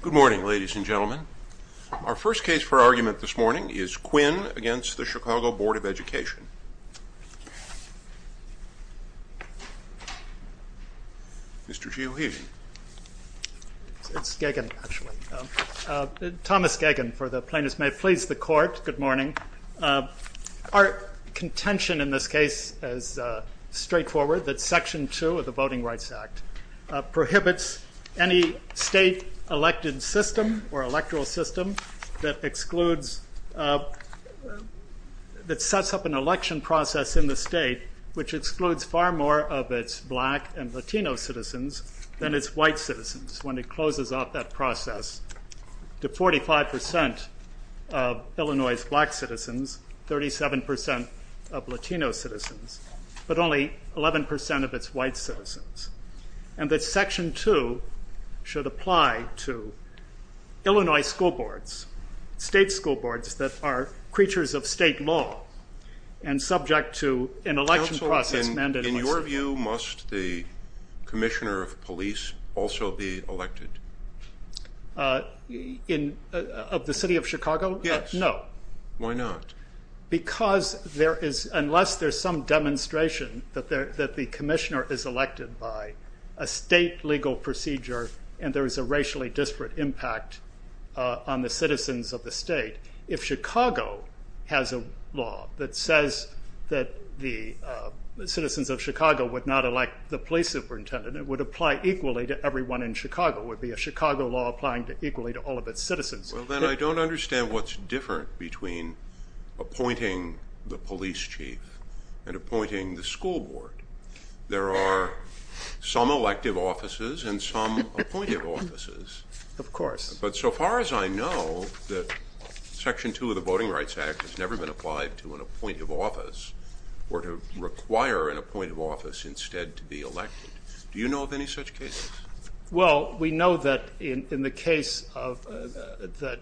Good morning, ladies and gentlemen. Our first case for argument this morning is Quinn v. the Chicago Board of Education. Mr. Geoheven. It's Gagin, actually. Thomas Gagin for the plaintiffs. May it please the Court, good morning. Our contention in this case is straightforward, that Section 2 of the Voting Rights Act prohibits any state elected system or electoral system that excludes, that sets up an election process in the state which excludes far more of its black and Latino citizens than its white citizens when it closes off that process to 45% of Illinois' black citizens, and that Section 2 should apply to Illinois school boards, state school boards that are creatures of state law and subject to an election process mandatory. Counsel, in your view, must the commissioner of police also be elected? Of the City of Chicago? Yes. No. Why not? Because there is, unless there's some demonstration that the commissioner is elected by a state legal procedure and there is a racially disparate impact on the citizens of the state, if Chicago has a law that says that the citizens of Chicago would not elect the police superintendent, it would apply equally to everyone in Chicago. It would be a Chicago law applying equally to all of its citizens. Well, then I don't understand what's different between appointing the police chief and appointing the school board. There are some elective offices and some appointive offices. Of course. But so far as I know that Section 2 of the Voting Rights Act has never been applied to an appointive office or to require an appointive office instead to be elected. Do you know of any such cases? Well, we know that in the case of the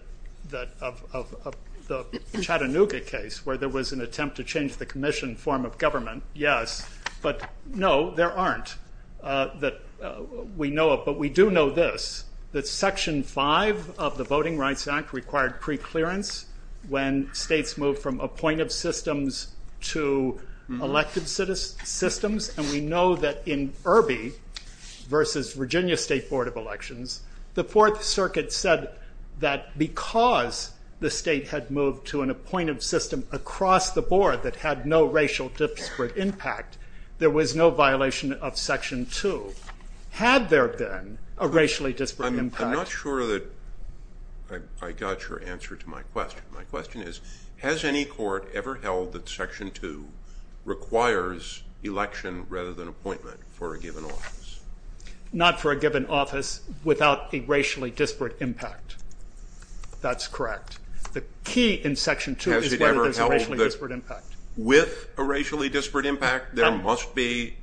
Chattanooga case where there was an attempt to change the commission form of government, yes, but no, there aren't. But we do know this, that Section 5 of the Voting Rights Act required preclearance when states moved from appointive systems to elective systems. And we know that in Irby versus Virginia State Board of Elections, the Fourth Circuit said that because the state had moved to an appointive system across the board that had no racial disparate impact, there was no violation of Section 2. Had there been a racially disparate impact? I'm not sure that I got your answer to my question. My question is, has any court ever held that Section 2 requires election rather than appointment for a given office? Not for a given office without a racially disparate impact. That's correct. The key in Section 2 is whether there's a racially disparate impact. With a racially disparate impact, there must be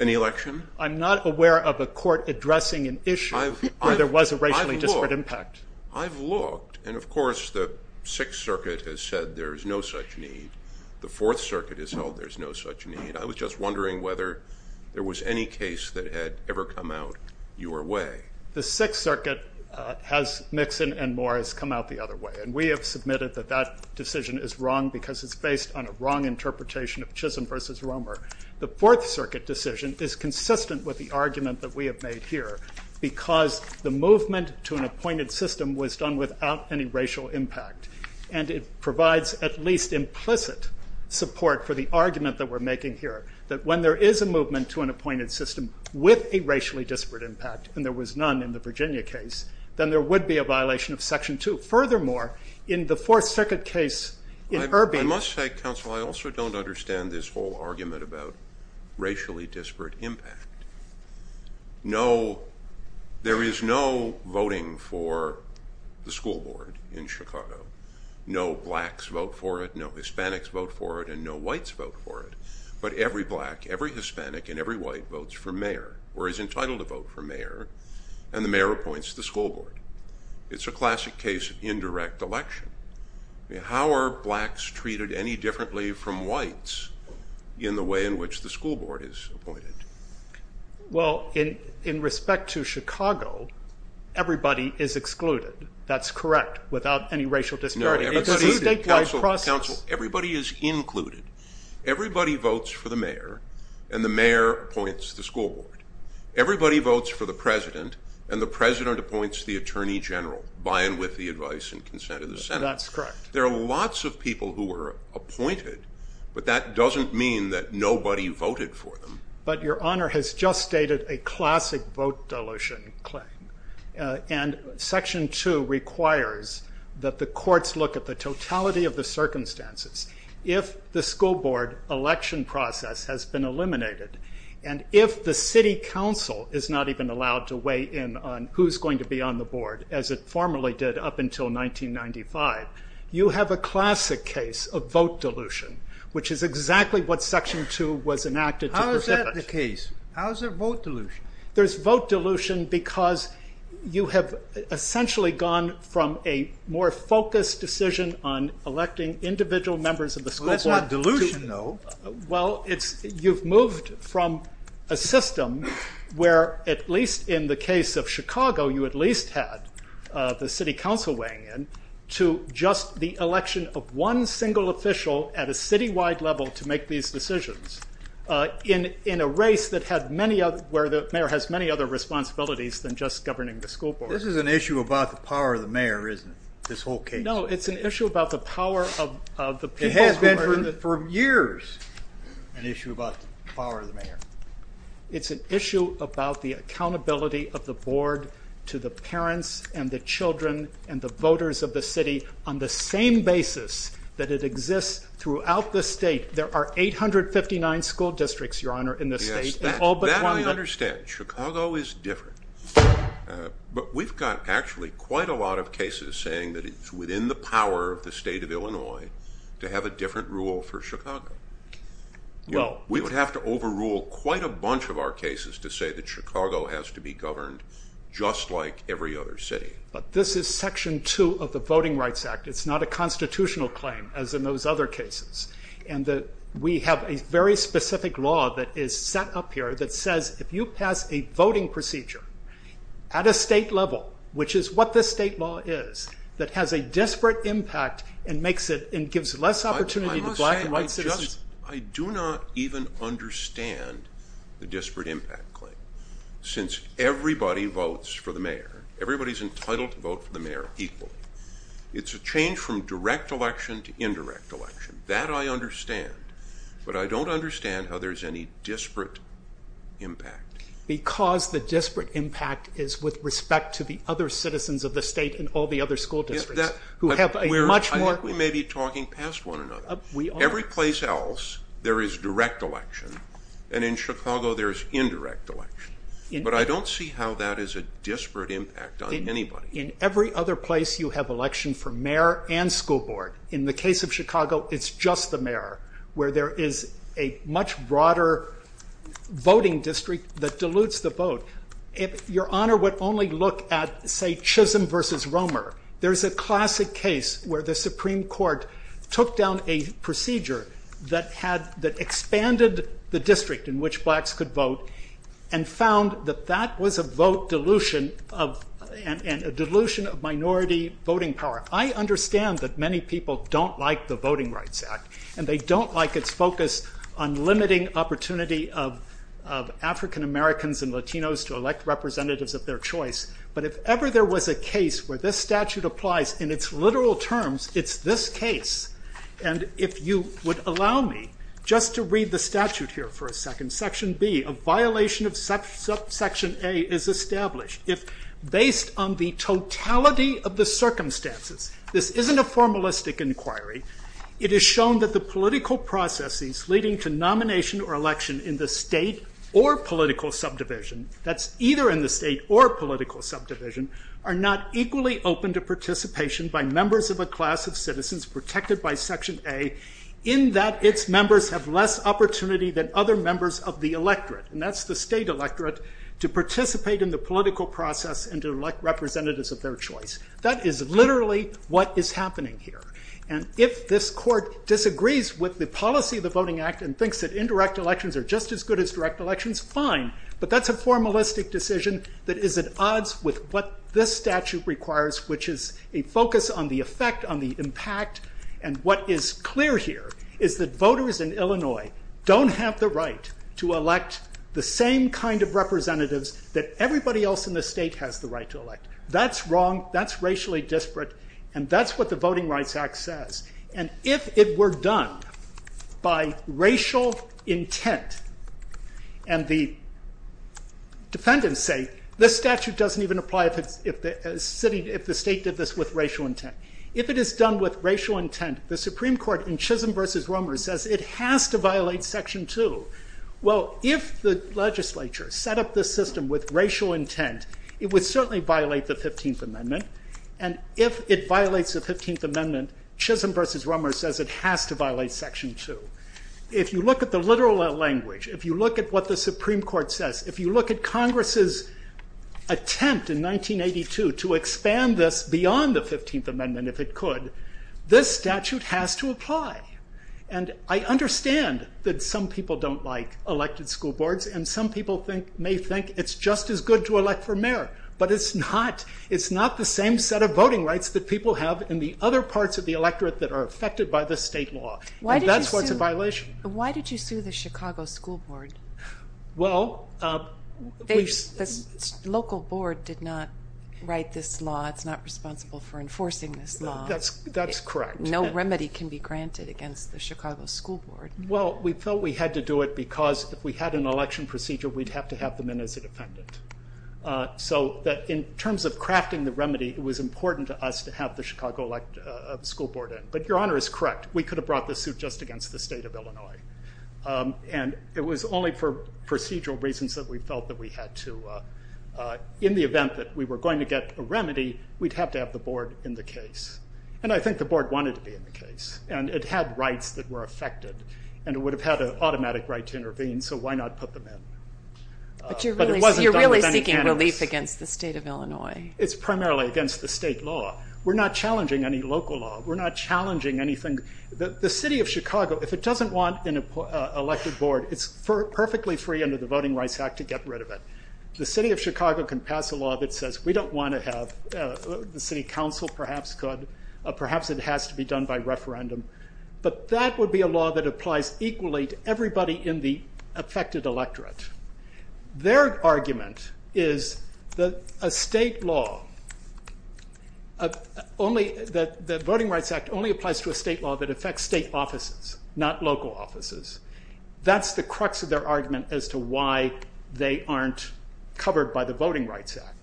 an election? I'm not aware of a court addressing an issue where there was a racially disparate impact. I've looked, and of course the Sixth Circuit has said there is no such need. The Fourth Circuit has held there's no such need. I was just wondering whether there was any case that had ever come out your way. The Sixth Circuit has, Mixon and Moore, has come out the other way. And we have submitted that that decision is wrong because it's based on a wrong interpretation of Chisholm versus consistent with the argument that we have made here, because the movement to an appointed system was done without any racial impact. And it provides at least implicit support for the argument that we're making here, that when there is a movement to an appointed system with a racially disparate impact, and there was none in the Virginia case, then there would be a violation of Section 2. Furthermore, in the Fourth Circuit case in Irby- I must say, counsel, I also don't understand this whole argument about racially disparate impact. There is no voting for the school board in Chicago. No blacks vote for it, no Hispanics vote for it, and no whites vote for it. But every black, every Hispanic, and every white votes for mayor or is entitled to vote for mayor, and the mayor appoints the school board. It's a classic case of indirect election. How are blacks treated any differently from whites in the way in which the school board is appointed? Well, in respect to Chicago, everybody is excluded. That's correct, without any racial disparity. It's a statewide process. Everybody is included. Everybody votes for the mayor, and the mayor appoints the school board. Everybody votes for the president, and the president appoints the attorney general, by and with the advice and consent of the Senate. That's correct. There are lots of people who were appointed, but that doesn't mean that nobody voted for them. But your Honor has just stated a classic vote dilution claim, and Section 2 requires that the courts look at the totality of the circumstances. If the school board election process has been eliminated, and if the city council is not even allowed to weigh in on who's going to be on the board, as it formerly did up until 1995, you have a classic case of vote dilution, which is exactly what Section 2 was enacted to precipitate. How is that the case? How is there vote dilution? There's vote dilution because you have essentially gone from a more focused decision on electing individual members of the school board to... Well, that's not dilution, though. Well, you've moved from a system where, at least in the case of Chicago, you at least had the city council weighing in, to just the election of one single official at a citywide level to make these decisions, in a race where the mayor has many other responsibilities than just governing the school board. This is an issue about the power of the mayor, isn't it, this whole case? No, it's an issue about the power of the people. It's been for years an issue about the power of the mayor. It's an issue about the accountability of the board to the parents and the children and the voters of the city, on the same basis that it exists throughout the state. There are 859 school districts, Your Honor, in this state, and all but one... Yes, that I understand. Chicago is different, but we've got actually quite a lot of cases saying that it's within the power of the state of Illinois to have a different rule for Chicago. We would have to overrule quite a bunch of our cases to say that Chicago has to be governed just like every other city. This is Section 2 of the Voting Rights Act. It's not a constitutional claim, as in those other cases. We have a very specific law that is set up here that says, if you pass a voting procedure at a state level, which is what this state law is, that has a disparate impact and gives less opportunity to black and white citizens... I do not even understand the disparate impact claim, since everybody votes for the mayor. Everybody's entitled to vote for the mayor equally. It's a change from direct election to indirect election. That I understand, but I don't understand how there's any disparate impact. Because the disparate impact is with respect to the other citizens of the state and all the other school districts, who have a much more... I think we may be talking past one another. Every place else, there is direct election, and in Chicago, there is indirect election. But I don't see how that is a disparate impact on anybody. In every other place, you have election for mayor and school board. In the case of Chicago, it's just the mayor, where there is a much broader voting district that dilutes the vote. Your Honor would only look at, say, Chisholm versus Romer. There's a classic case where the Supreme Court took down a procedure that expanded the district in which blacks could vote, and found that that was a vote dilution and a dilution of minority voting power. I understand that many people don't like the Voting Rights Act, and they don't like its focus on limiting opportunity of African Americans and Latinos to elect representatives of their choice. But if ever there was a case where this statute applies in its literal terms, it's this case. And if you would allow me just to read the statute here for a second. Section B, a violation of Section A is established if, based on the totality of the circumstances, this isn't a formalistic inquiry. It has shown that the political processes leading to nomination or election in the state or political subdivision, that's either in the state or political subdivision, are not equally open to participation by members of a class of citizens protected by Section A, in that its members have less opportunity than other members of the electorate, and that's the state electorate, to participate in the political process and to elect representatives of their choice. That is literally what is happening here. And if this court disagrees with the policy of the Voting Act and thinks that indirect elections are just as good as direct elections, fine. But that's a formalistic decision that is at odds with what this statute requires, which is a focus on the effect, on the impact. And what is clear here is that voters in Illinois don't have the right to elect the same kind of person. That's wrong. That's racially disparate. And that's what the Voting Rights Act says. And if it were done by racial intent, and the defendants say, this statute doesn't even apply if the state did this with racial intent. If it is done with racial intent, the Supreme Court in Chisholm v. Romer says it has to violate Section 2. Well, if the legislature set up this system with racial intent, it would certainly violate the 15th Amendment. And if it violates the 15th Amendment, Chisholm v. Romer says it has to violate Section 2. If you look at the literal language, if you look at what the Supreme Court says, if you look at Congress's attempt in 1982 to expand this beyond the 15th Amendment, if it could, this statute has to apply. And I understand that some people don't like elected school boards. And some people may think it's just as good to elect for mayor. But it's not. It's not the same set of voting rights that people have in the other parts of the electorate that are affected by the state law. And that's why it's a violation. Why did you sue the Chicago School Board? Well, we've- The local board did not write this law. It's not responsible for enforcing this law. That's correct. No remedy can be granted against the Chicago School Board. Well, we felt we had to do it because if we had an election procedure, we'd have to have them in as a defendant. So that in terms of crafting the remedy, it was important to us to have the Chicago School Board in. But Your Honor is correct. We could have brought this suit just against the state of Illinois. And it was only for procedural reasons that we felt that we had to. In the event that we were going to get a remedy, we'd have to have the board in the case. And I think the board wanted to be in the case. And it had rights that were affected. And it would have had an automatic right to intervene. So why not put them in? But you're really seeking relief against the state of Illinois. It's primarily against the state law. We're not challenging any local law. We're not challenging anything. The city of Chicago, if it doesn't want an elected board, it's perfectly free under the Voting Rights Act to get rid of it. The city of Chicago can pass a law that says we don't want to have, the city council perhaps could, perhaps it has to be done by referendum. But that would be a law that applies equally to everybody in the affected electorate. Their argument is that a state law, that Voting Rights Act only applies to a state law that affects state offices, not local offices. That's the crux of their argument as to why they aren't covered by the Voting Rights Act.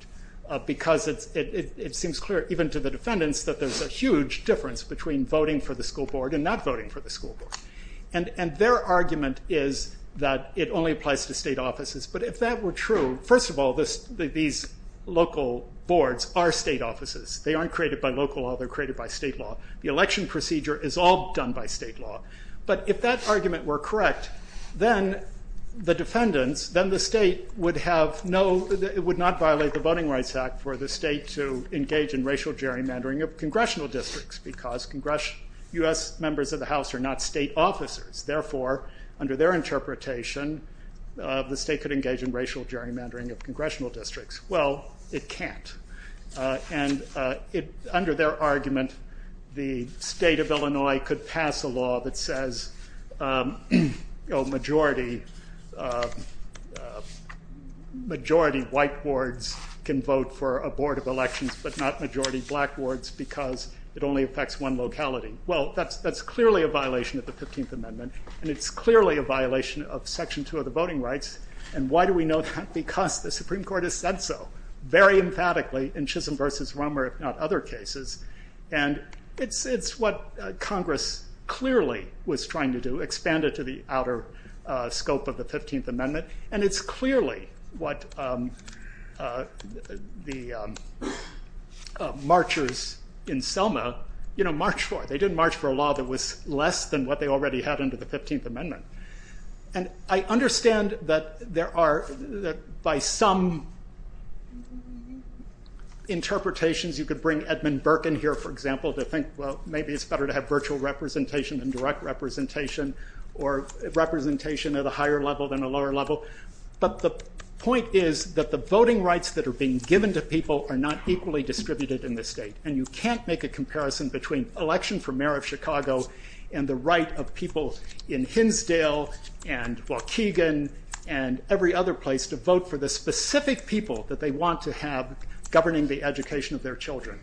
Because it seems clear, even to the defendants, that there's a huge difference between voting for the school board and not voting for the school board. And their argument is that it only applies to state offices. But if that were true, first of all, these local boards are state offices. They aren't created by local law, they're created by state law. The election procedure is all done by state law. But if that argument were correct, then the defendants, then the state would have no, it would not violate the Voting Rights Act for the state to engage in racial gerrymandering of congressional districts, because U.S. members of the House are not state officers, therefore, under their interpretation, the state could engage in racial gerrymandering of congressional districts. Well, it can't, and under their argument, the state of Illinois could pass a law that majority white boards can vote for a board of elections, but not majority black boards, because it only affects one locality. Well, that's clearly a violation of the 15th Amendment, and it's clearly a violation of Section 2 of the Voting Rights, and why do we know that? Because the Supreme Court has said so, very emphatically, in Chisholm v. Romer, if not other cases. And it's what Congress clearly was trying to do, expand it to the outer scope of the 15th Amendment, and it's clearly what the marchers in Selma, you know, marched for. They didn't march for a law that was less than what they already had under the 15th Amendment. And I understand that there are, that by some interpretations, you could bring Edmund Burke in here, for example, to think, well, maybe it's better to have virtual representation than direct representation, or representation at a higher level than a lower level. But the point is that the voting rights that are being given to people are not equally distributed in the state, and you can't make a comparison between election for mayor of Chicago and the right of people in Hinsdale and Waukegan and every other place to vote for the specific people that they want to have governing the education of their children.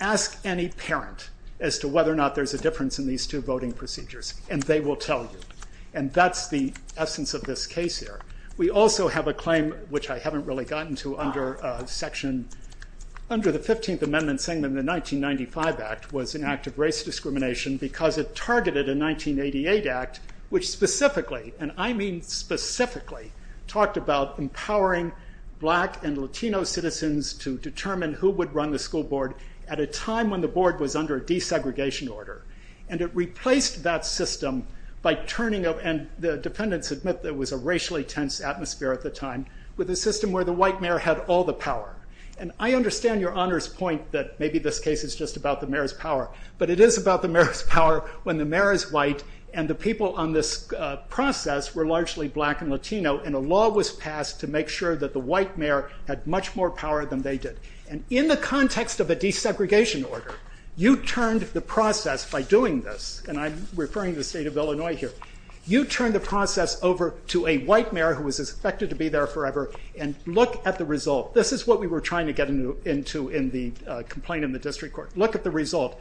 Ask any parent as to whether or not there's a difference in these two voting procedures, and they will tell you. And that's the essence of this case here. We also have a claim, which I haven't really gotten to under Section, under the 15th Amendment, saying that the 1995 Act was an act of race discrimination because it targeted a 1988 Act, which specifically, and I mean specifically, talked about empowering black and Latino citizens to determine who would run the school board at a time when the board was under a desegregation order. And it replaced that system by turning up, and the defendants admit that it was a racially tense atmosphere at the time, with a system where the white mayor had all the power. And I understand your Honor's point that maybe this case is just about the mayor's power, but it is about the mayor's power when the mayor is white and the people on this process were largely black and Latino, and a law was passed to make sure that the white mayor had much more power than they did. And in the context of a desegregation order, you turned the process, by doing this, and I'm referring to the state of Illinois here, you turned the process over to a white mayor who was expected to be there forever, and look at the result. This is what we were trying to get into in the complaint in the district court. Look at the result.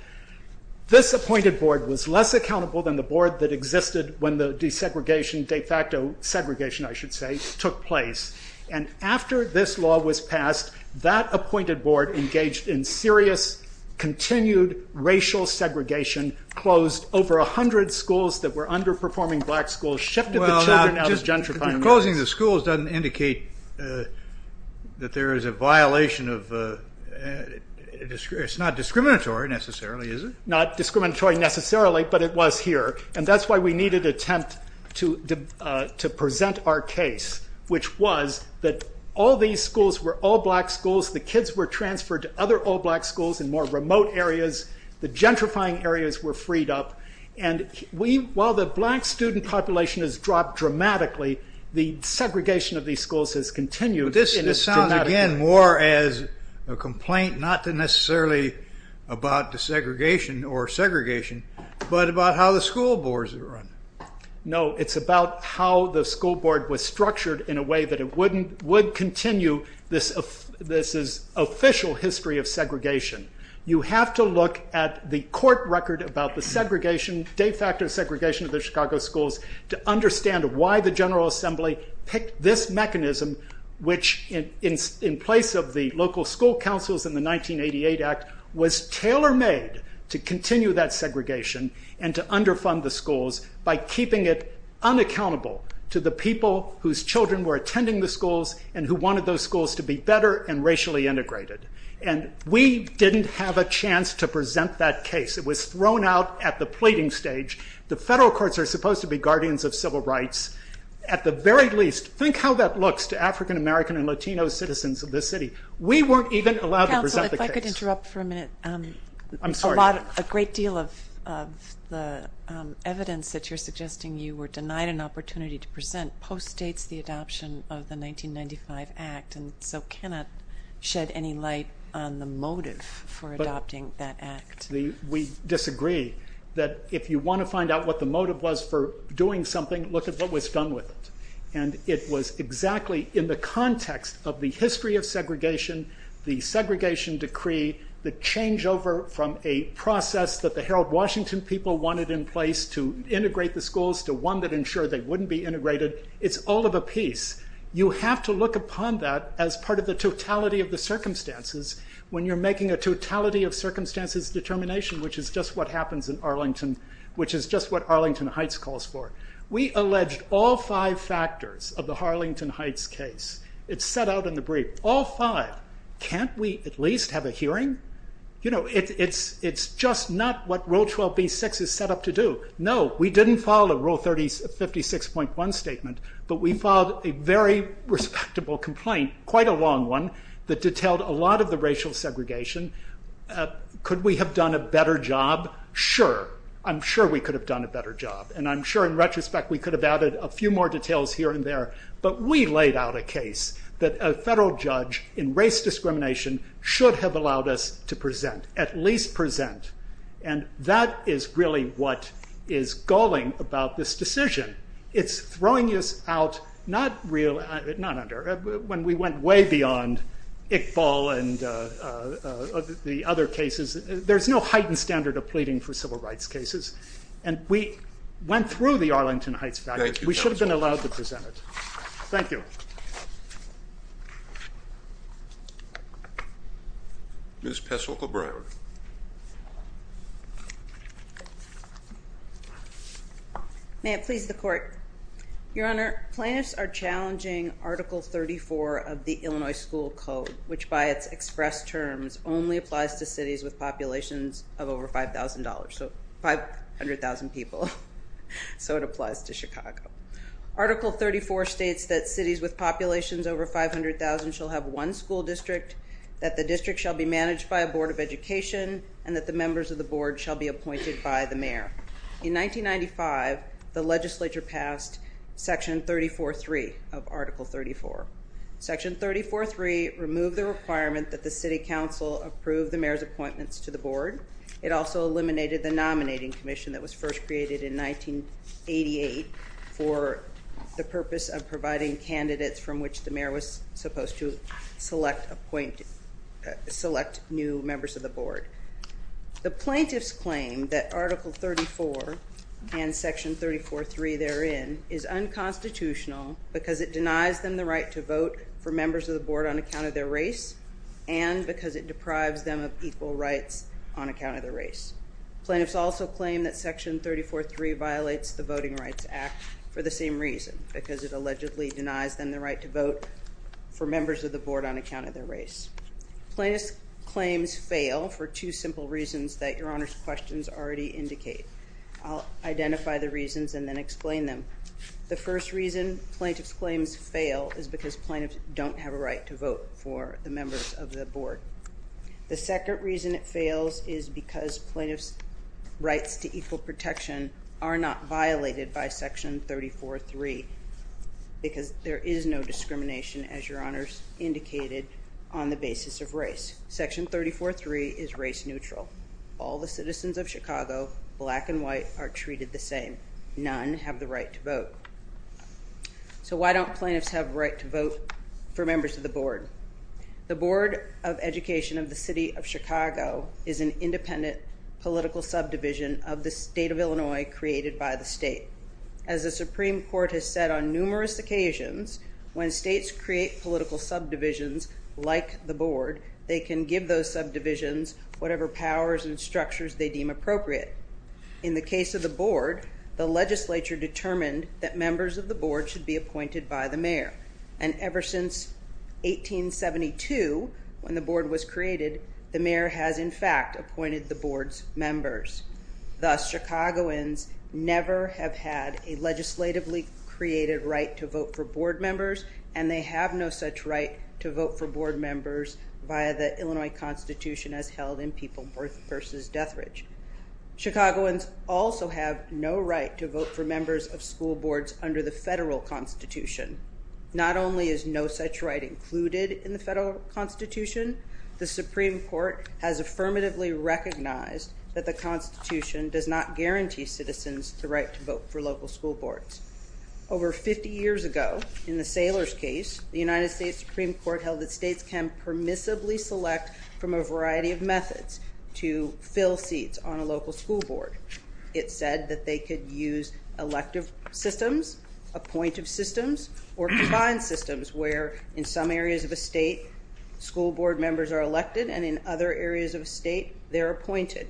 This appointed board was less accountable than the board that existed when the desegregation, de facto segregation, I should say, took place. And after this law was passed, that appointed board engaged in serious, continued racial segregation, closed over a hundred schools that were underperforming black schools, shifted the children out of gentrifying schools. Well, closing the schools doesn't indicate that there is a violation of, it's not discriminatory necessarily, is it? Not discriminatory necessarily, but it was here. And that's why we needed an attempt to present our case, which was that all these schools were all black schools, the kids were transferred to other all black schools in more remote areas, the gentrifying areas were freed up, and while the black student population has dropped dramatically, the segregation of these schools has continued. This sounds, again, more as a complaint, not necessarily about desegregation or segregation, but about how the school boards were run. No, it's about how the school board was structured in a way that it would continue this official history of segregation. You have to look at the court record about the segregation, de facto segregation of the Chicago schools to understand why the General Assembly picked this mechanism, which in place of the local school councils in the 1988 Act was tailor-made to continue that segregation and to underfund the schools by keeping it unaccountable to the people whose children were attending the schools and who wanted those schools to be better and racially integrated. And we didn't have a chance to present that case. It was thrown out at the pleading stage. The federal courts are supposed to be guardians of civil rights. At the very least, think how that looks to African American and Latino citizens of this city. We weren't even allowed to present the case. Counsel, if I could interrupt for a minute. I'm sorry. A great deal of the evidence that you're suggesting you were denied an opportunity to present post-dates the adoption of the 1995 Act and so cannot shed any light on the motive for adopting that Act. We disagree that if you want to find out what the motive was for doing something, look at what was done with it. It was exactly in the context of the history of segregation, the segregation decree, the changeover from a process that the Harold Washington people wanted in place to integrate the schools to one that ensured they wouldn't be integrated. It's all of a piece. You have to look upon that as part of the totality of the circumstances. When you're making a totality of circumstances determination, which is just what happens in Arlington, which is just what Arlington Heights calls for. We alleged all five factors of the Arlington Heights case. It's set out in the brief. All five. Can't we at least have a hearing? It's just not what Rule 12b-6 is set up to do. No, we didn't follow Rule 56.1 statement, but we filed a very respectable complaint, quite a long one, that detailed a lot of the racial segregation. Could we have done a better job? Sure. I'm sure we could have done a better job. I'm sure, in retrospect, we could have added a few more details here and there. We laid out a case that a federal judge in race discrimination should have allowed us to present, at least present. That is really what is galling about this decision. It's throwing us out, not under, when we went way beyond Iqbal and the other cases. There's no heightened standard of pleading for civil rights cases. We went through the Arlington Heights factors. We should have been allowed to present it. Thank you. Ms. Pestle-Coburn. May it please the court. Your Honor, plaintiffs are challenging Article 34 of the Illinois School Code, which by its definition, is about 100,000 people, so it applies to Chicago. Article 34 states that cities with populations over 500,000 shall have one school district, that the district shall be managed by a board of education, and that the members of the board shall be appointed by the mayor. In 1995, the legislature passed Section 34.3 of Article 34. Section 34.3 removed the requirement that the city council approve the mayor's appointments to the board. It also eliminated the nominating commission that was first created in 1988 for the purpose of providing candidates from which the mayor was supposed to select new members of the board. The plaintiffs claim that Article 34 and Section 34.3 therein is unconstitutional because it denies them the right to vote for members of the board on account of their race and because it deprives them of equal rights on account of their race. Plaintiffs also claim that Section 34.3 violates the Voting Rights Act for the same reason, because it allegedly denies them the right to vote for members of the board on account of their race. Plaintiffs' claims fail for two simple reasons that Your Honor's questions already indicate. I'll identify the reasons and then explain them. The first reason plaintiffs' claims fail is because plaintiffs don't have a right to vote for the members of the board. The second reason it fails is because plaintiffs' rights to equal protection are not violated by Section 34.3 because there is no discrimination, as Your Honor's indicated, on the basis of race. Section 34.3 is race neutral. All the citizens of Chicago, black and white, are treated the same. None have the right to vote. So why don't plaintiffs have a right to vote for members of the board? The Board of Education of the City of Chicago is an independent political subdivision of the state of Illinois created by the state. As the Supreme Court has said on numerous occasions, when states create political subdivisions like the board, they can give those subdivisions whatever powers and structures they deem appropriate. In the case of the board, the legislature determined that members of the board should be appointed by the mayor. And ever since 1872, when the board was created, the mayor has, in fact, appointed the board's members. Thus, Chicagoans never have had a legislatively created right to vote for board members, and they have no such right to vote for board members via the Illinois Constitution as held in People v. Death Ridge. Chicagoans also have no right to vote for members of school boards under the federal constitution. Not only is no such right included in the federal constitution, the Supreme Court has affirmatively recognized that the constitution does not guarantee citizens the right to vote for local school boards. Over 50 years ago, in the Saylor's case, the United States Supreme Court held that states can permissibly select from a variety of methods to fill seats on a local school board. It said that they could use elective systems, appointive systems, or combined systems where in some areas of a state, school board members are elected, and in other areas of a state, they're appointed.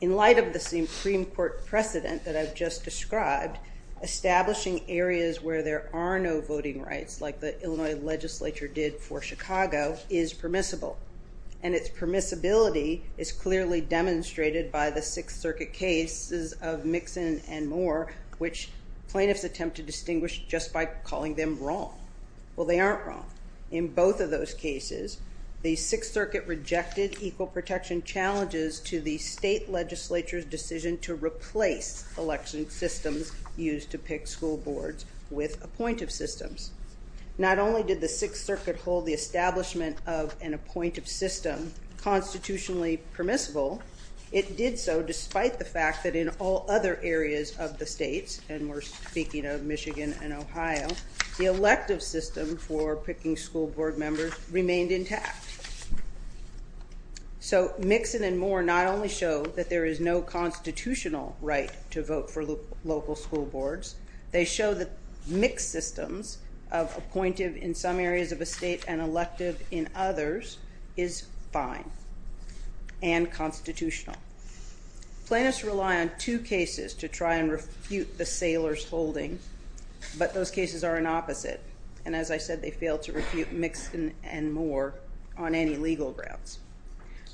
In light of the Supreme Court precedent that I've just described, establishing areas where there are no voting rights, like the Illinois legislature did for Chicago, is permissible. And its permissibility is clearly demonstrated by the Sixth Circuit cases of Mixon and Moore, which plaintiffs attempt to distinguish just by calling them wrong. Well, they aren't wrong. In both of those cases, the Sixth Circuit rejected equal protection challenges to the appointive systems. Not only did the Sixth Circuit hold the establishment of an appointive system constitutionally permissible, it did so despite the fact that in all other areas of the states, and we're speaking of Michigan and Ohio, the elective system for picking school board members remained intact. So Mixon and Moore not only show that there is no constitutional right to vote for local school boards, they show that mixed systems of appointive in some areas of a state and elective in others is fine and constitutional. Plaintiffs rely on two cases to try and refute the sailors' holding, but those cases are an opposite. And as I said, they fail to refute Mixon and Moore on any legal grounds.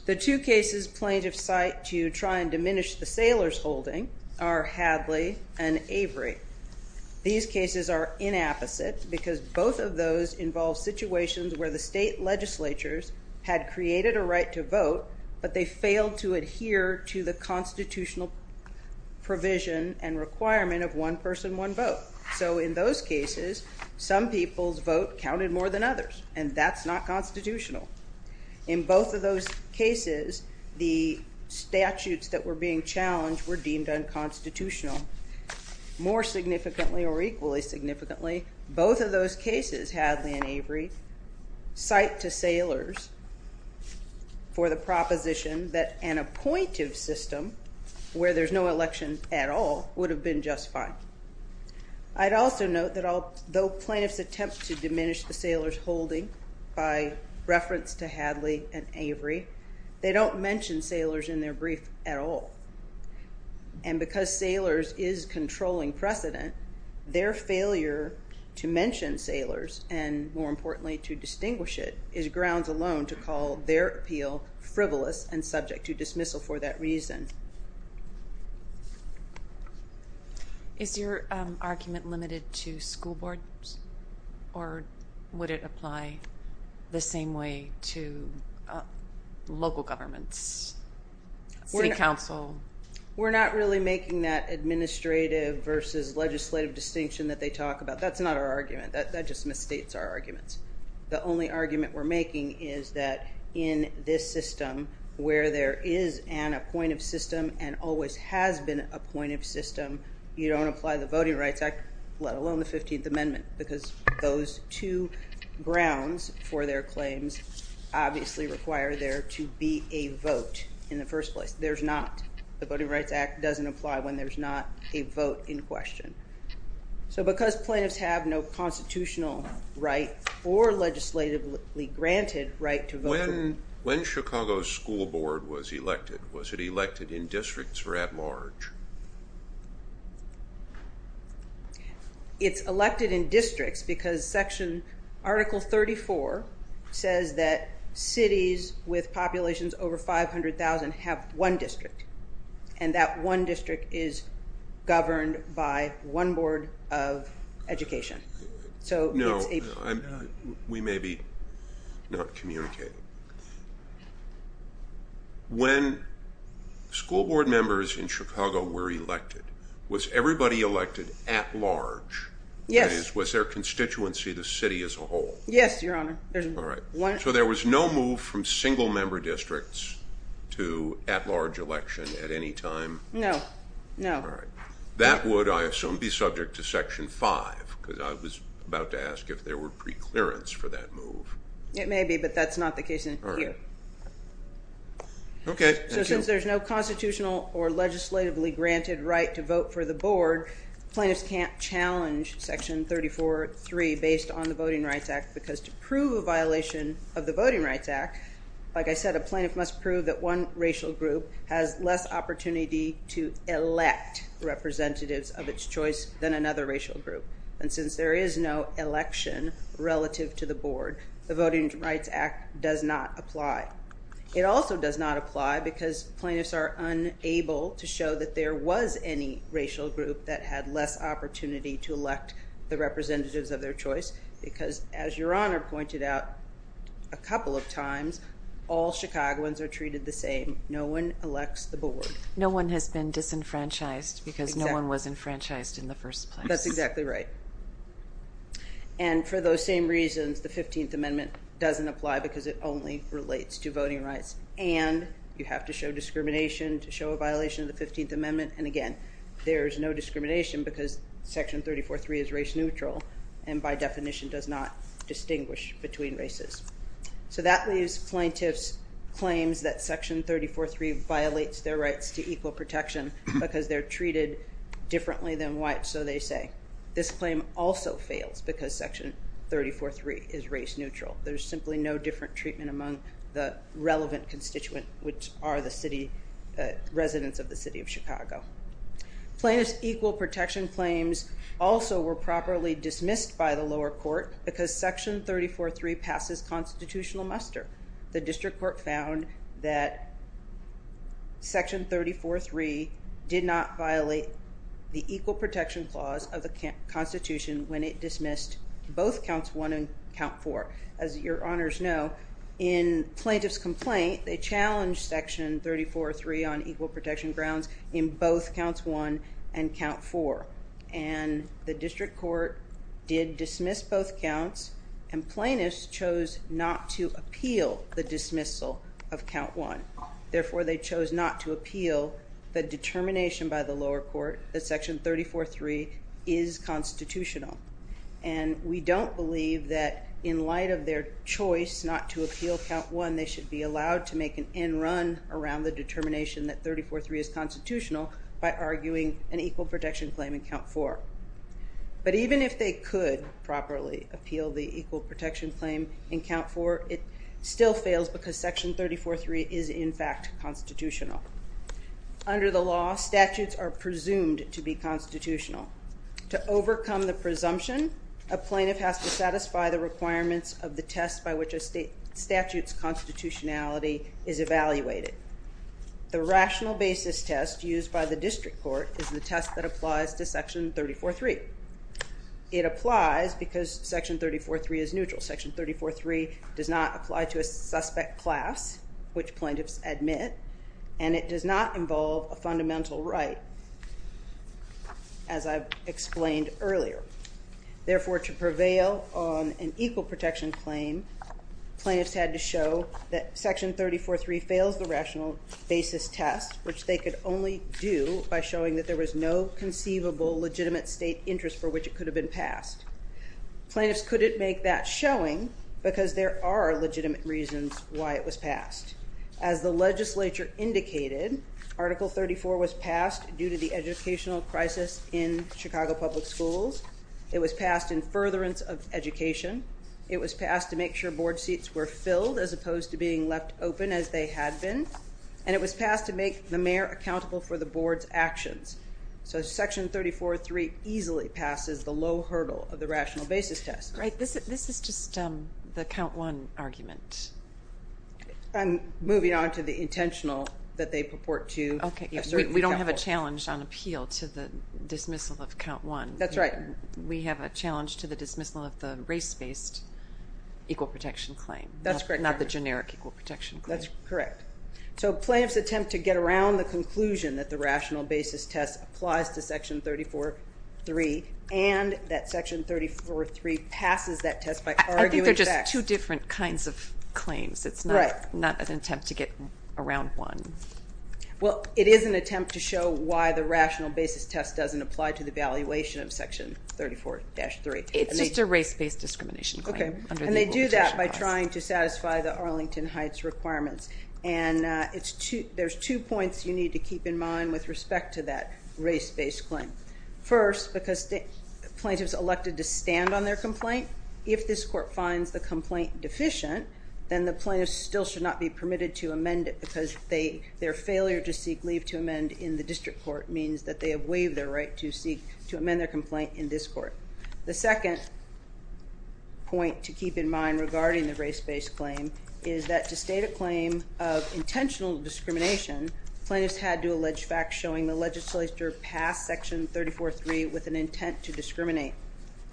The two cases plaintiffs cite to try and diminish the sailors' holding are Hadley and Avery. These cases are inapposite because both of those involve situations where the state legislatures had created a right to vote, but they failed to adhere to the constitutional provision and requirement of one person, one vote. So in those cases, some people's vote counted more than others, and that's not constitutional. In both of those cases, the statutes that were being challenged were deemed unconstitutional. More significantly or equally significantly, both of those cases, Hadley and Avery, cite to sailors for the proposition that an appointive system where there's no election at all would have been justified. I'd also note that though plaintiffs attempt to diminish the sailors' holding by reference to Hadley and Avery, they don't mention sailors in their brief at all. And because sailors is controlling precedent, their failure to mention sailors, and more importantly to distinguish it, is grounds alone to call their appeal frivolous and subject to dismissal for that reason. Is your argument limited to school boards, or would it apply the same way to local governments, city council? We're not really making that administrative versus legislative distinction that they talk about. That's not our argument. That just misstates our arguments. The only argument we're making is that in this system where there is an appointive system and always has been a appointive system, you don't apply the Voting Rights Act, let alone the 15th Amendment, because those two grounds for their claims obviously require there to be a vote in the first place. There's not. The Voting Rights Act doesn't apply when there's not a vote in question. So because plaintiffs have no constitutional right or legislatively granted right to vote in... When Chicago's school board was elected, was it elected in districts or at large? It's elected in districts because Article 34 says that cities with populations over 500,000 have one district, and that one district is governed by one board of education. No, we may be not communicating. When school board members in Chicago were elected, was everybody elected at large? Yes. That is, was there a constituency of the city as a whole? Yes, Your Honor. All right. So there was no move from single-member districts to at-large election at any time? No, no. All right. That would, I assume, be subject to Section 5, because I was about to ask if there were preclearance for that move. It may be, but that's not the case in here. All right. Okay, thank you. So since there's no constitutional or legislatively granted right to vote for the board, plaintiffs can't challenge Section 34.3 based on the Voting Rights Act, because to prove a violation of the Voting Rights Act, like I said, a plaintiff must prove that one racial group has less opportunity to elect representatives of its choice than another racial group. And since there is no election relative to the board, the Voting Rights Act does not apply. It also does not apply because plaintiffs are unable to show that there was any racial group that had less opportunity to elect the representatives of their choice, because as Your Honor pointed out a couple of times, all Chicagoans are treated the same. No one elects the board. No one has been disenfranchised because no one was enfranchised in the first place. That's exactly right. And for those same reasons, the 15th Amendment doesn't apply because it only relates to voting rights. And again, there's no discrimination because Section 34.3 is race neutral and by definition does not distinguish between races. So that leaves plaintiffs' claims that Section 34.3 violates their rights to equal protection because they're treated differently than whites. So they say, this claim also fails because Section 34.3 is race neutral. There's simply no different treatment among the relevant constituent, which are the residents of the city of Chicago. Plaintiffs' equal protection claims also were properly dismissed by the lower court because Section 34.3 passes constitutional muster. The district court found that Section 34.3 did not violate the equal protection clause of the Constitution when it dismissed both Counts 1 and Count 4. As your honors know, in plaintiff's complaint, they challenged Section 34.3 on equal protection grounds in both Counts 1 and Count 4. And the district court did dismiss both counts and plaintiffs chose not to appeal the dismissal of Count 1. Therefore, they chose not to appeal the determination by the lower court that Section 34.3 is constitutional. And we don't believe that in light of their choice not to appeal Count 1, they should be allowed to make an end run around the determination that 34.3 is constitutional by arguing an equal protection claim in Count 4. But even if they could properly appeal the equal protection claim in Count 4, it still fails because Section 34.3 is, in fact, constitutional. Under the law, statutes are presumed to be constitutional. To overcome the presumption, a plaintiff has to satisfy the requirements of the test by which a statute's constitutionality is evaluated. The rational basis test used by the district court is the test that applies to Section 34.3. It applies because Section 34.3 is neutral. Section 34.3 does not apply to a suspect class, which plaintiffs admit, and it does not involve a fundamental right, as I've explained earlier. Therefore, to prevail on an equal protection claim, plaintiffs had to show that Section 34.3 fails the rational basis test, which they could only do by showing that there was no conceivable legitimate state interest for which it could have been passed. Plaintiffs couldn't make that showing because there are legitimate reasons why it was passed. As the legislature indicated, Article 34 was passed due to the educational crisis in Chicago Public Schools. It was passed in furtherance of education. It was passed to make sure board seats were filled as opposed to being left open as they had been. And it was passed to make the mayor accountable for the board's actions. So Section 34.3 easily passes the low hurdle of the rational basis test. Right. This is just the Count 1 argument. I'm moving on to the intentional that they purport to assert the Count 1. Okay. We don't have a challenge on appeal to the dismissal of Count 1. That's right. We have a challenge to the dismissal of the race-based equal protection claim. That's correct. Not the generic equal protection claim. That's correct. So plaintiffs attempt to get around the conclusion that the rational basis test applies to Section 34.3 and that Section 34.3 passes that test by arguing facts. I think they're just two different kinds of claims. Right. It's not an attempt to get around one. Well, it is an attempt to show why the rational basis test doesn't apply to the valuation of Section 34.3. It's just a race-based discrimination claim under the Equal Protection Clause. Okay. And they do that by trying to satisfy the Arlington Heights requirements. And there's two points you need to keep in mind with respect to that race-based claim. First, because plaintiffs elected to stand on their complaint, if this court finds the complaint deficient, then the plaintiffs still should not be permitted to amend it because their failure to seek leave to amend in the district court means that they have waived their right to amend their complaint in this court. The second point to keep in mind regarding the race-based claim is that to state a claim of intentional discrimination, plaintiffs had to allege facts showing the legislature passed Section 34.3 with an intent to discriminate.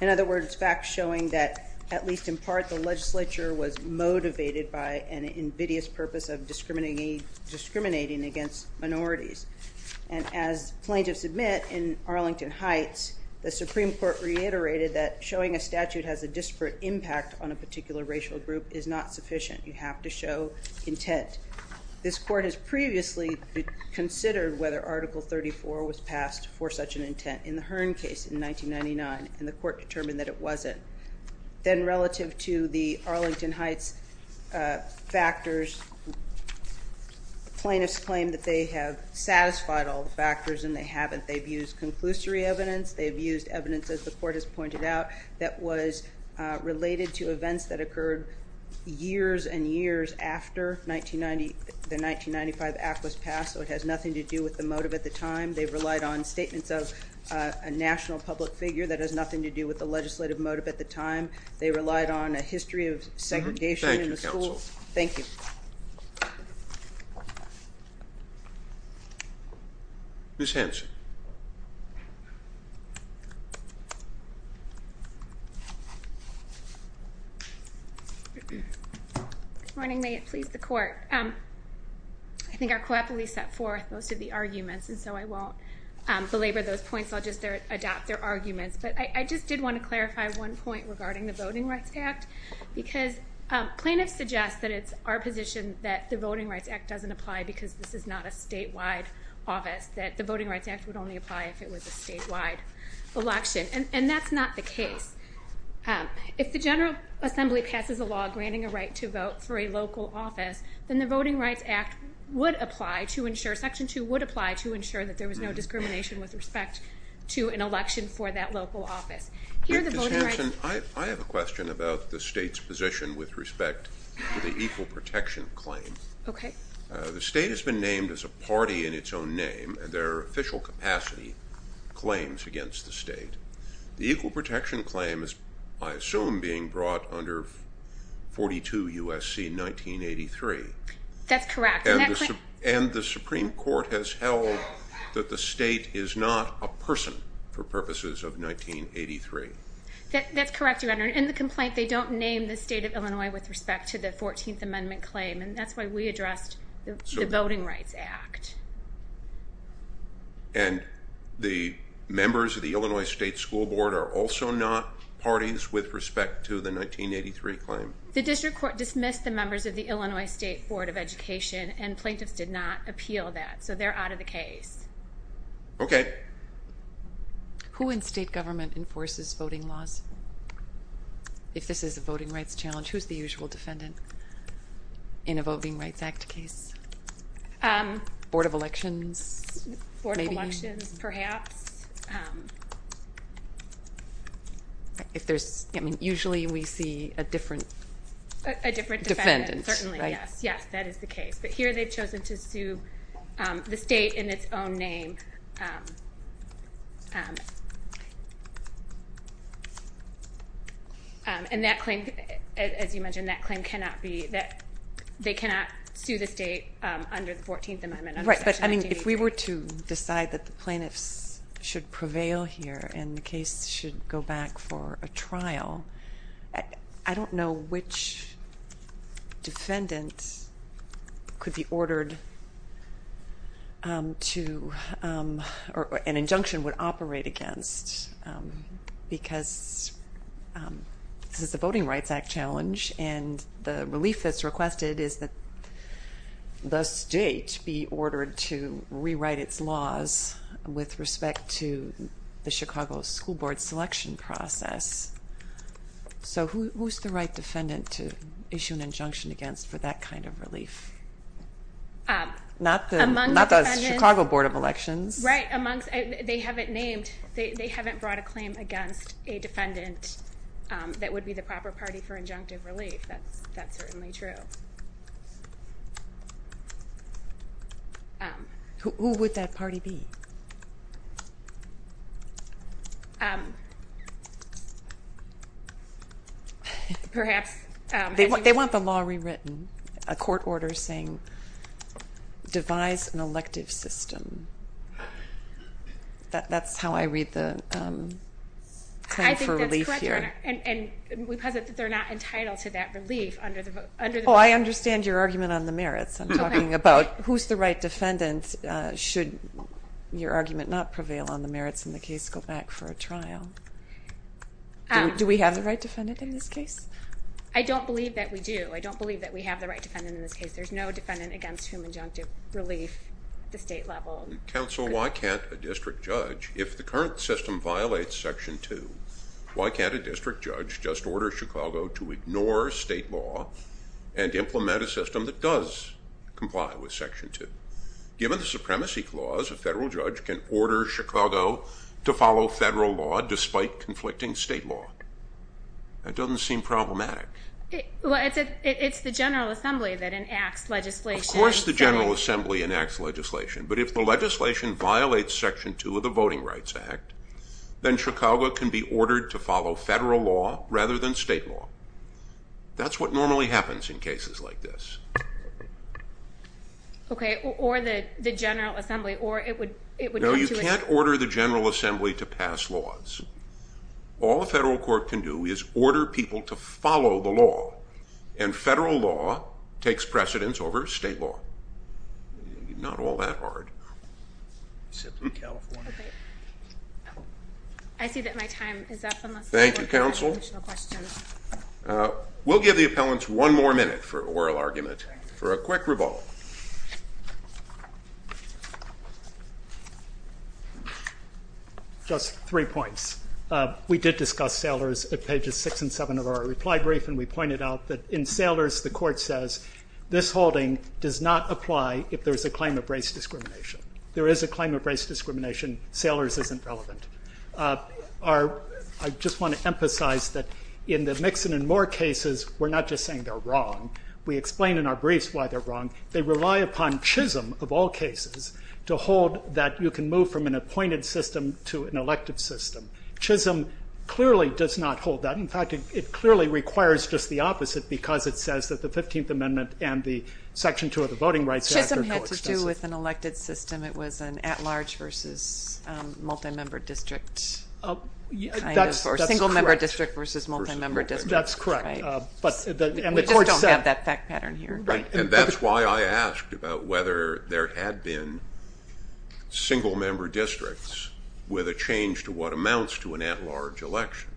In other words, facts showing that, at least in part, the legislature was motivated by an invidious purpose of discriminating against minorities. And as plaintiffs admit in Arlington Heights, the Supreme Court reiterated that showing a statute has a disparate impact on a particular racial group is not sufficient. You have to show intent. This court has previously considered whether Article 34 was passed for such an intent in the Hearn case in 1999, and the court determined that it wasn't. Then relative to the Arlington Heights factors, plaintiffs claim that they have satisfied all the factors and they haven't. They've used conclusory evidence. They've used evidence, as the court has pointed out, that was related to events that occurred years and years after the 1995 Act was passed, so it has nothing to do with the motive at the time. They've relied on statements of a national public figure. That has nothing to do with the legislative motive at the time. They relied on a history of segregation in the schools. Thank you, counsel. Thank you. Ms. Hanson. Good morning. May it please the court. I think I cooperatively set forth most of the arguments, and so I won't belabor those points. I'll just adopt their arguments, but I just did want to clarify one point regarding the Voting Rights Act, because plaintiffs suggest that it's our position that the Voting Rights Act doesn't apply because this is not a statewide office, that the Voting Rights Act would only apply if it was a statewide election, and that's not the case. If the General Assembly passes a law granting a right to vote for a local office, then the Voting Rights Act would apply to ensure, Section 2 would apply to ensure that there was no discrimination with respect to an election for that local office. Ms. Hanson, I have a question about the state's position with respect to the Equal Protection Claim. Okay. The state has been named as a party in its own name, and there are official capacity claims against the state. The Equal Protection Claim is, I assume, being brought under 42 U.S.C. 1983. That's correct. And the Supreme Court has held that the state is not a person for purposes of 1983. That's correct, Your Honor. In the complaint, they don't name the state of Illinois with respect to the 14th Amendment Claim, and that's why we addressed the Voting Rights Act. And the members of the Illinois State School Board are also not parties with respect to the 1983 claim? The District Court dismissed the members of the Illinois State Board of Education, and plaintiffs did not appeal that, so they're out of the case. Okay. Who in state government enforces voting laws? If this is a voting rights challenge, who's the usual defendant in a Voting Rights Act case? Board of Elections, maybe? Board of Elections, perhaps. If there's... I mean, usually we see a different... A different defendant. Defendant, right? Certainly, yes. Yes, that is the case. But here they've chosen to sue the state in its own name. And that claim, as you mentioned, that claim cannot be... They cannot sue the state under the 14th Amendment. Right, but I mean, if we were to decide that the plaintiffs should prevail here and the case should go back for a trial, I don't know which defendant could be ordered to an injunction would operate against, because this is a Voting Rights Act challenge, and the relief that's requested is that the state be ordered to rewrite its laws with respect to the Chicago School Board selection process. So who's the right defendant to issue an injunction against for that kind of relief? Among the defendants... Right, amongst... They haven't named... They haven't brought a claim against a defendant that would be the proper party for injunctive relief. That's certainly true. Who would that party be? Perhaps... They want the law rewritten, a court order saying, devise an elective system. That's how I read the claim for relief here. I think that's correct, and because they're not entitled to that relief under the... Oh, I understand your argument on the merits. I'm talking about who's the right defendant should your argument not prevail on the merits and the case go back for a trial. Do we have the right defendant in this case? I don't believe that we do. I don't believe that we have the right defendant in this case. There's no defendant against whom injunctive relief at the state level... Counsel, why can't a district judge, if the current system violates Section 2, why can't a district judge just order Chicago to ignore state law and implement a system that does comply with Section 2? Given the supremacy clause, a federal judge can order Chicago to follow federal law despite conflicting state law. That doesn't seem problematic. Well, it's the General Assembly that enacts legislation... Of course the General Assembly enacts legislation, but if the legislation violates Section 2 of the Voting Rights Act, then Chicago can be ordered to follow federal law rather than state law. That's what normally happens in cases like this. Okay, or the General Assembly, or it would come to a... No, you can't order the General Assembly to pass laws. All a federal court can do is order people to follow the law, and federal law takes precedence over state law. Not all that hard. I see that my time is up unless... Thank you, Counsel. We'll give the appellants one more minute for oral argument for a quick rebuttal. Just three points. We did discuss Saylors at pages 6 and 7 of our reply brief, and we pointed out that in Saylors, the court says this holding does not apply if there's a claim of race discrimination. There is a claim of race discrimination. Saylors isn't relevant. I just want to emphasize that in the Mixon and Moore cases, we're not just saying they're wrong. We explain in our briefs why they're wrong. They rely upon Chisholm, of all cases, to hold that you can move from an appointed system to an elected system. Chisholm clearly does not hold that. In fact, it clearly requires just the opposite because it says that the 15th Amendment and the Section 2 of the Voting Rights Act are coextensive. Chisholm had to do with an elected system. It was an at-large versus multi-member district kind of, or single-member district versus multi-member district, right? That's correct, and the court said... We just don't have that fact pattern here. Right, and that's why I asked about whether there had been single-member districts with a change to what amounts to an at-large election.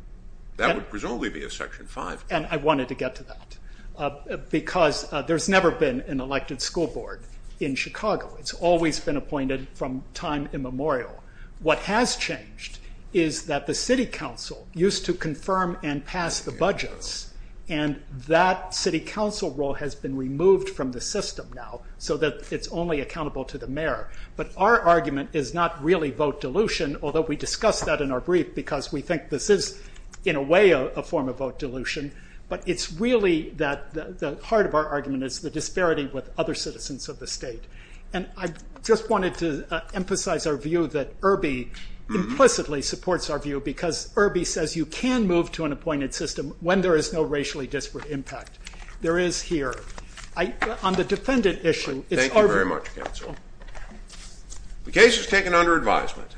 That would presumably be a Section 5. And I wanted to get to that because there's never been an elected school board in Chicago. It's always been appointed from time immemorial. What has changed is that the city council used to confirm and pass the budgets, and that city council role has been removed from the system now so that it's only accountable to the mayor. But our argument is not really vote dilution, although we discussed that in our brief because we think this is, in a way, a form of vote dilution. But it's really that the heart of our argument is the disparity with other citizens of the state. And I just wanted to emphasize our view that Irby implicitly supports our view because Irby says you can move to an appointed system when there is no racially disparate impact. There is here. On the defendant issue... Thank you very much, counsel. The case is taken under advisement.